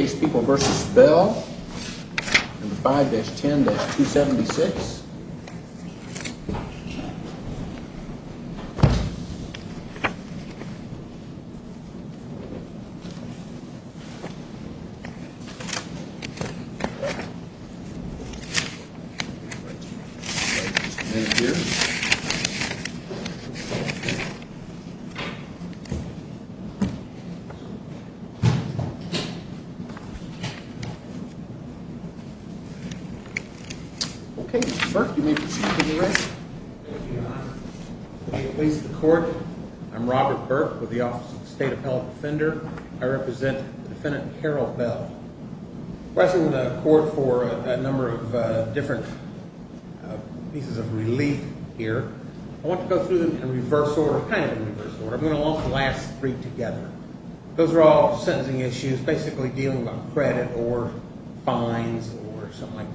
5-10-276 Robert Burke Representative Carol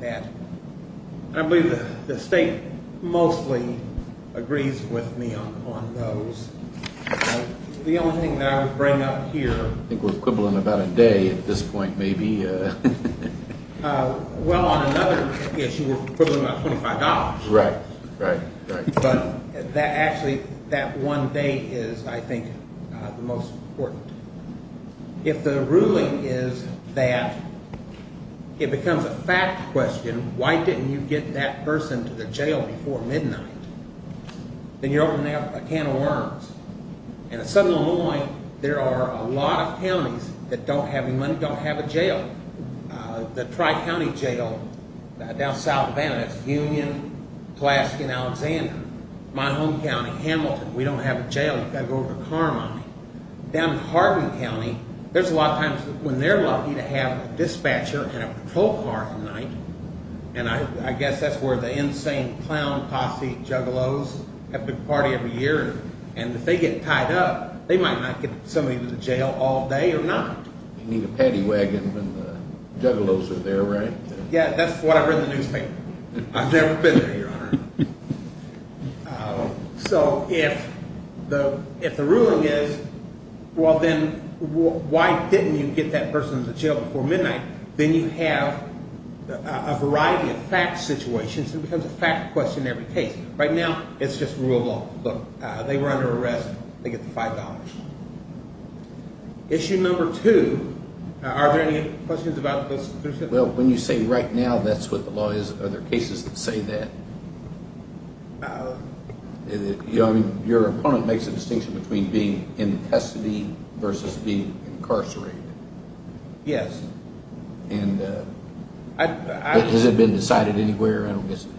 Bell I believe the state mostly agrees with me on those. The only thing that I would bring up here... I think we're quibbling about a day at this point, maybe. Well, on another issue, we're quibbling about $25. Right, right, right. But actually, that one day is, I think, the most important. If the ruling is that it becomes a fact question, why didn't you get that person to the jail before midnight? Then you're opening up a can of worms. And in Southern Illinois, there are a lot of counties that don't have any money, don't have a jail. The Tri-County Jail down South of Annapolis, Union, Pulaski, and Alexander. My home county, Hamilton, we don't have a jail. You've got to go over to Carmine. Down in Harbin County, there's a lot of times when they're lucky to have a dispatcher and a patrol car at night. And I guess that's where the insane clown posse juggalos have a big party every year. And if they get tied up, they might not get somebody to the jail all day or night. You need a paddy wagon when the juggalos are there, right? Yeah, that's what I read in the newspaper. I've never been there, Your Honor. So if the ruling is, well, then why didn't you get that person to the jail before midnight? Then you have a variety of fact situations. It becomes a fact question in every case. Right now, it's just rule of law. Look, they were under arrest. They get the $5. Issue number two, are there any questions about this? Well, when you say right now, that's what the law is. Are there cases that say that? Your opponent makes a distinction between being in custody versus being incarcerated. Yes. And has it been decided anywhere? I don't guess it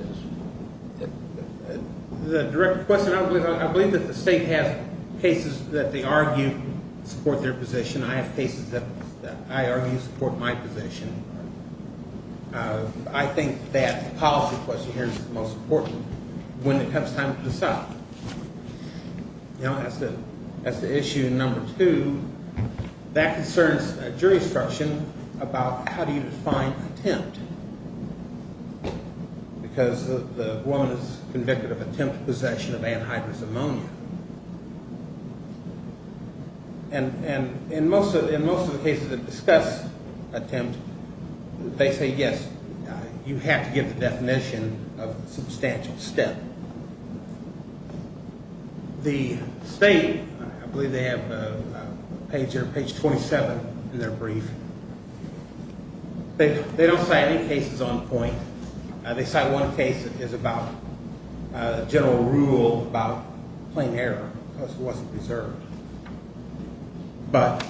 has. The direct question, I believe that the state has cases that they argue support their position. I have cases that I argue support my position. I think that the policy question here is the most important. When it comes time to decide, you know, that's the issue. Number two, that concerns jury instruction about how do you define attempt? Because the woman is convicted of attempted possession of anhydrous ammonia. And in most of the cases that discuss attempt, they say, yes, you have to give the definition of substantial step. The state, I believe they have a page here, page 27 in their brief. They don't cite any cases on point. They cite one case that is about general rule about plain error because it wasn't preserved. But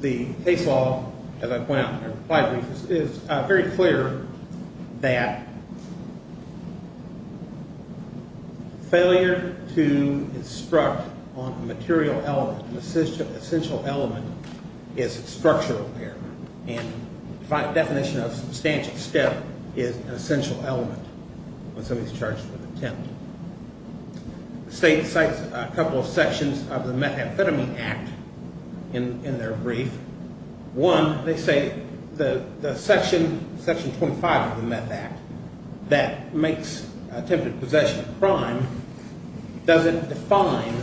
the case law, as I pointed out in my brief, is very clear that failure to instruct on a material element, an essential element, is structural error. And the definition of substantial step is an essential element when somebody is charged with attempt. The state cites a couple of sections of the Methamphetamine Act in their brief. One, they say the section 25 of the Meth Act that makes attempted possession a crime doesn't define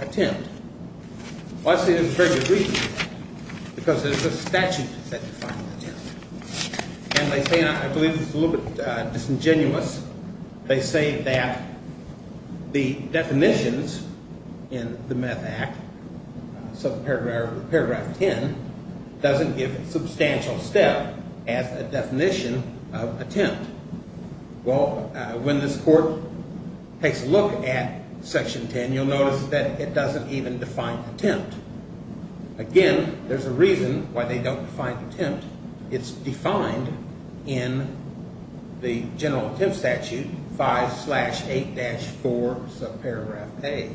attempt. Well, I say this is a very good reason because there's a statute that defines attempt. And they say, and I believe this is a little bit disingenuous, they say that the definitions in the Meth Act, paragraph 10, doesn't give substantial step as a definition of attempt. Well, when this court takes a look at section 10, you'll notice that it doesn't even define attempt. Again, there's a reason why they don't define attempt. It's defined in the General Attempt Statute, 5-8-4, subparagraph A.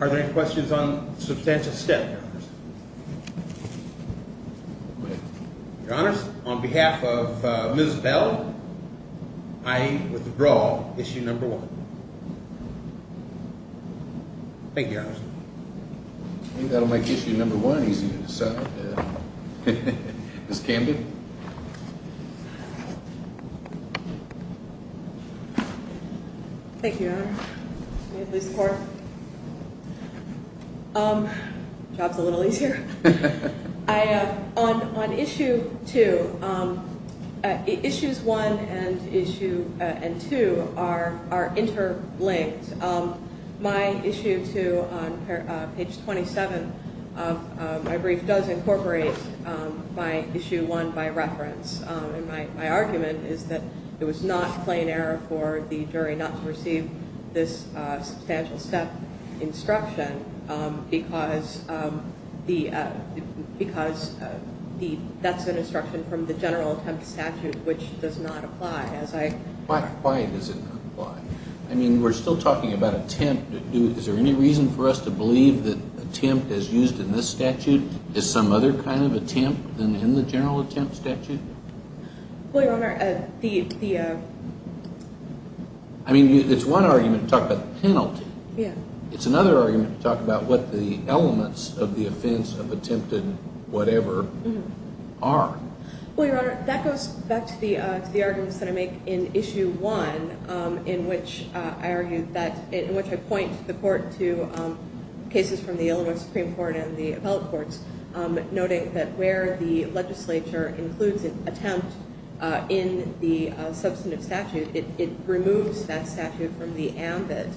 Are there any questions on substantial step, Your Honors? Your Honors, on behalf of Ms. Bell, I withdraw issue number one. Thank you, Your Honors. I think that'll make issue number one easier to decide. Ms. Camden? Thank you, Your Honor. May it please the court. Job's a little easier. On issue two, issues one and two are interlinked. My issue two on page 27 of my brief does incorporate my issue one by reference. My argument is that it was not plain error for the jury not to receive this substantial step. instruction because that's an instruction from the General Attempt Statute, which does not apply. Why does it not apply? I mean, we're still talking about attempt. Is there any reason for us to believe that attempt as used in this statute is some other kind of attempt than in the General Attempt Statute? I mean, it's one argument to talk about penalty. It's another argument to talk about what the elements of the offense of attempted whatever are. Well, Your Honor, that goes back to the arguments that I make in issue one, in which I point the court to cases from the Illinois Supreme Court and the appellate courts, noting that where the legislature includes an attempt in the substantive statute, it removes that statute from the ambit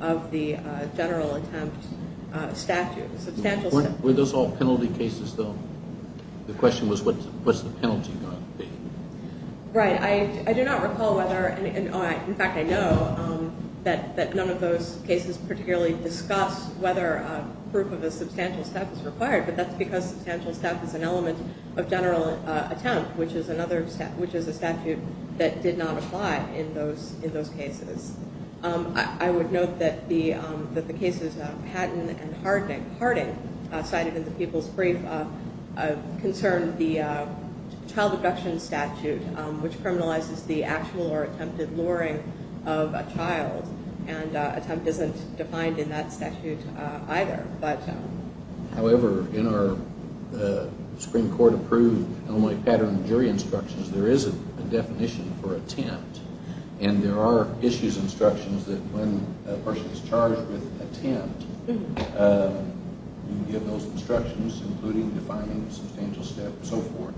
of the General Attempt Statute. Were those all penalty cases, though? The question was, what's the penalty going to be? Right. I do not recall whether, in fact, I know that none of those cases particularly discuss whether proof of a substantial step is required, but that's because substantial step is an element of General Attempt, which is a statute that did not apply in those cases. I would note that the cases of Patton and Harding cited in the People's Brief concern the Child Abduction Statute, which criminalizes the actual or attempted luring of a child, and attempt isn't defined in that statute either. However, in our Supreme Court-approved Illinois Pattern of Jury Instructions, there is a definition for attempt, and there are issues instructions that when a person is charged with attempt, you give those instructions, including defining substantial step, and so forth.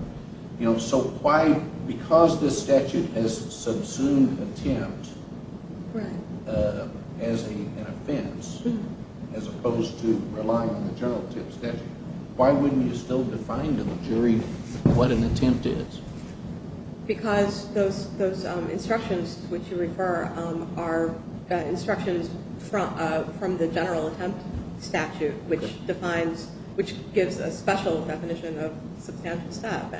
So why, because this statute has subsumed attempt as an offense, as opposed to relying on the General Attempt Statute, why wouldn't you still define to the jury what an attempt is? Because those instructions which you refer are instructions from the General Attempt Statute, which defines, which gives a special definition of substantial step.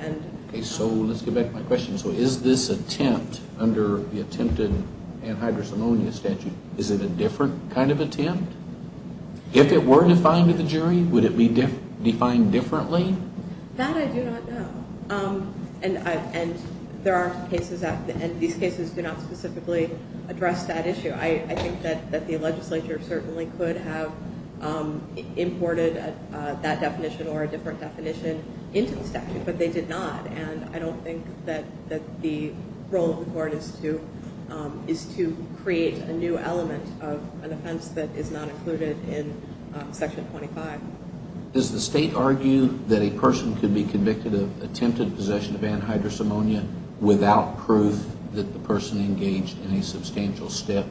Okay, so let's get back to my question. So is this attempt, under the attempted anhydrocemonia statute, is it a different kind of attempt? If it were defined to the jury, would it be defined differently? That I do not know. And there are cases, and these cases do not specifically address that issue. I think that the legislature certainly could have imported that definition or a different definition into the statute, but they did not. And I don't think that the role of the court is to create a new element of an offense that is not included in Section 25. Does the state argue that a person could be convicted of attempted possession of anhydrocemonia without proof that the person engaged in a substantial step?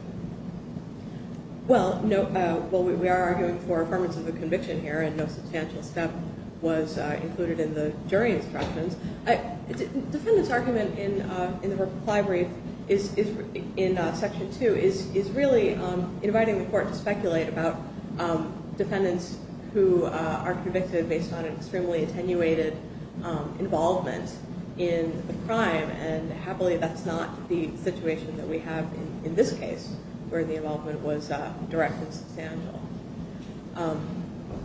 Well, we are arguing for affirmance of the conviction here, and no substantial step was included in the jury instructions. The defendant's argument in the reply brief in Section 2 is really inviting the court to speculate about defendants who are convicted based on an extremely attenuated involvement in the crime. And happily, that's not the situation that we have in this case, where the involvement was direct and substantial.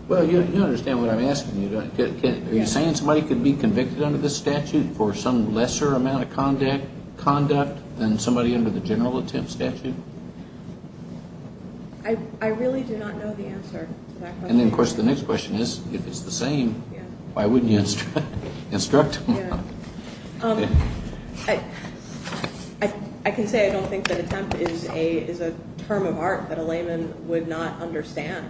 Well, you understand what I'm asking. Are you saying somebody could be convicted under this statute for some lesser amount of conduct than somebody under the general attempt statute? I really do not know the answer to that question. And then, of course, the next question is, if it's the same, why wouldn't you instruct them? I can say I don't think that attempt is a term of art that a layman would not understand,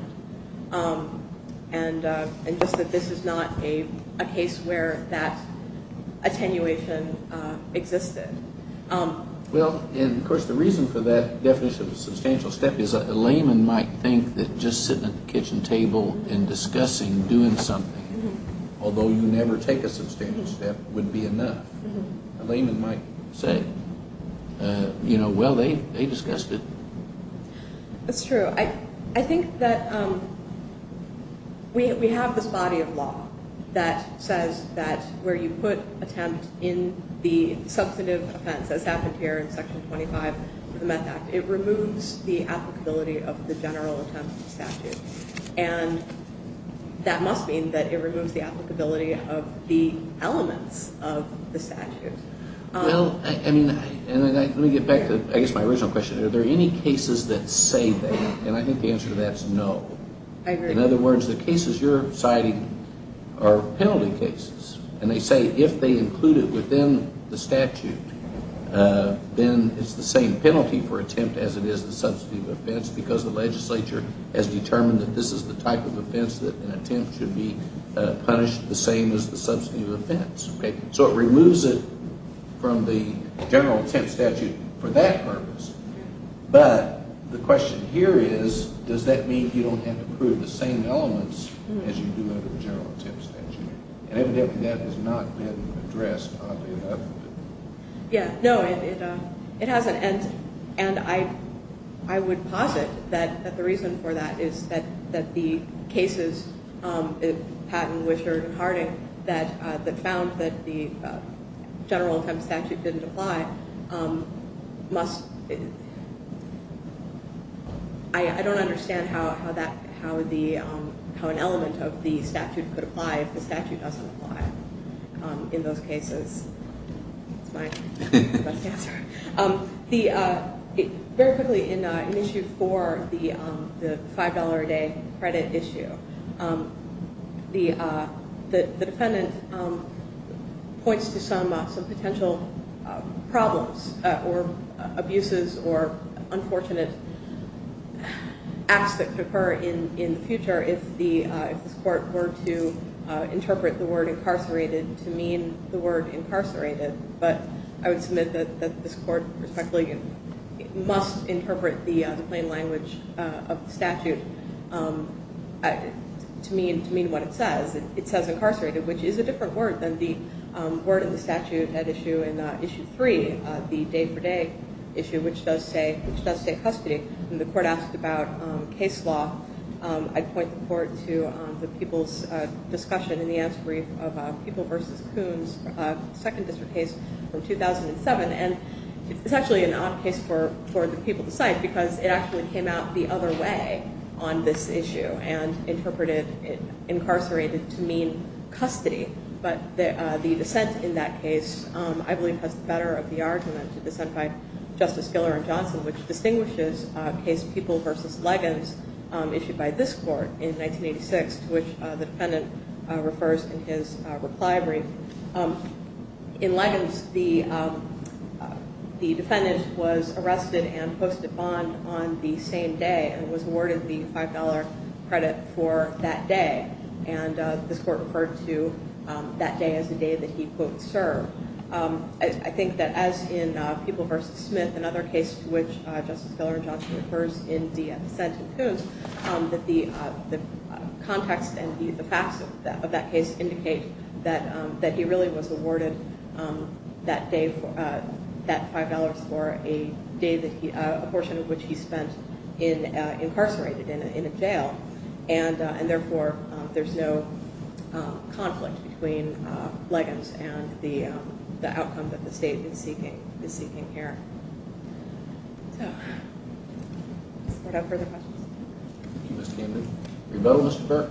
and just that this is not a case where that attenuation existed. Well, and of course the reason for that definition of a substantial step is a layman might think that just sitting at the kitchen table and discussing doing something, although you never take a substantial step, would be enough. A layman might say, you know, well, they discussed it. That's true. I think that we have this body of law that says that where you put attempt in the substantive offense, as happened here in Section 25 of the Meth Act, it removes the applicability of the general attempt statute. And that must mean that it removes the applicability of the elements of the statute. Well, I mean, let me get back to, I guess, my original question. Are there any cases that say that? And I think the answer to that is no. In other words, the cases you're citing are penalty cases. And they say if they include it within the statute, then it's the same penalty for attempt as it is the substantive offense because the legislature has determined that this is the type of offense that an attempt should be punished the same as the substantive offense. So it removes it from the general attempt statute for that purpose. But the question here is, does that mean you don't have to prove the same elements as you do under the general attempt statute? And evidently that has not been addressed, oddly enough. Yeah, no, it hasn't. And I would posit that the reason for that is that the cases, Patton, Wisher, and Harding, that found that the general attempt statute didn't apply must... I don't understand how an element of the statute could apply if the statute doesn't apply in those cases. That's my best answer. Very quickly, an issue for the $5 a day credit issue. The defendant points to some potential problems or abuses or unfortunate acts that could occur in the future if this court were to interpret the word incarcerated to mean the word incarcerated. But I would submit that this court respectfully must interpret the plain language of the statute to mean what it says. It says incarcerated, which is a different word than the word in the statute at issue 3, the day for day issue, which does say custody. When the court asked about case law, I'd point the court to the people's discussion in the answer brief of People v. Coons, second district case from 2007. And it's actually an odd case for the people to cite because it actually came out the other way on this issue and interpreted incarcerated to mean custody. But the dissent in that case, I believe, has the better of the argument to dissent by Justice Giller and Johnson, which distinguishes case People v. Leggins issued by this court in 1986, to which the defendant refers in his reply brief. In Leggins, the defendant was arrested and posted bond on the same day and was awarded the $5 credit for that day. And this court referred to that day as the day that he, quote, served. I think that as in People v. Smith, another case to which Justice Giller and Johnson refers in the dissent in Coons, that the context and the facts of that case indicate that he really was awarded that $5 for a day that he, a portion of which he spent incarcerated in a jail. And therefore, there's no conflict between Leggins and the outcome that the state is seeking here. So, does the court have further questions? Thank you, Ms. Camden. Rebel, Mr. Burke?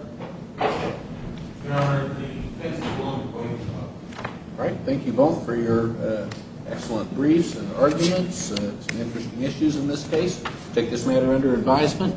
Your Honor, the defense is willing to plead with the law. All right. Thank you both for your excellent briefs and arguments. Some interesting issues in this case. Take this matter under advisement.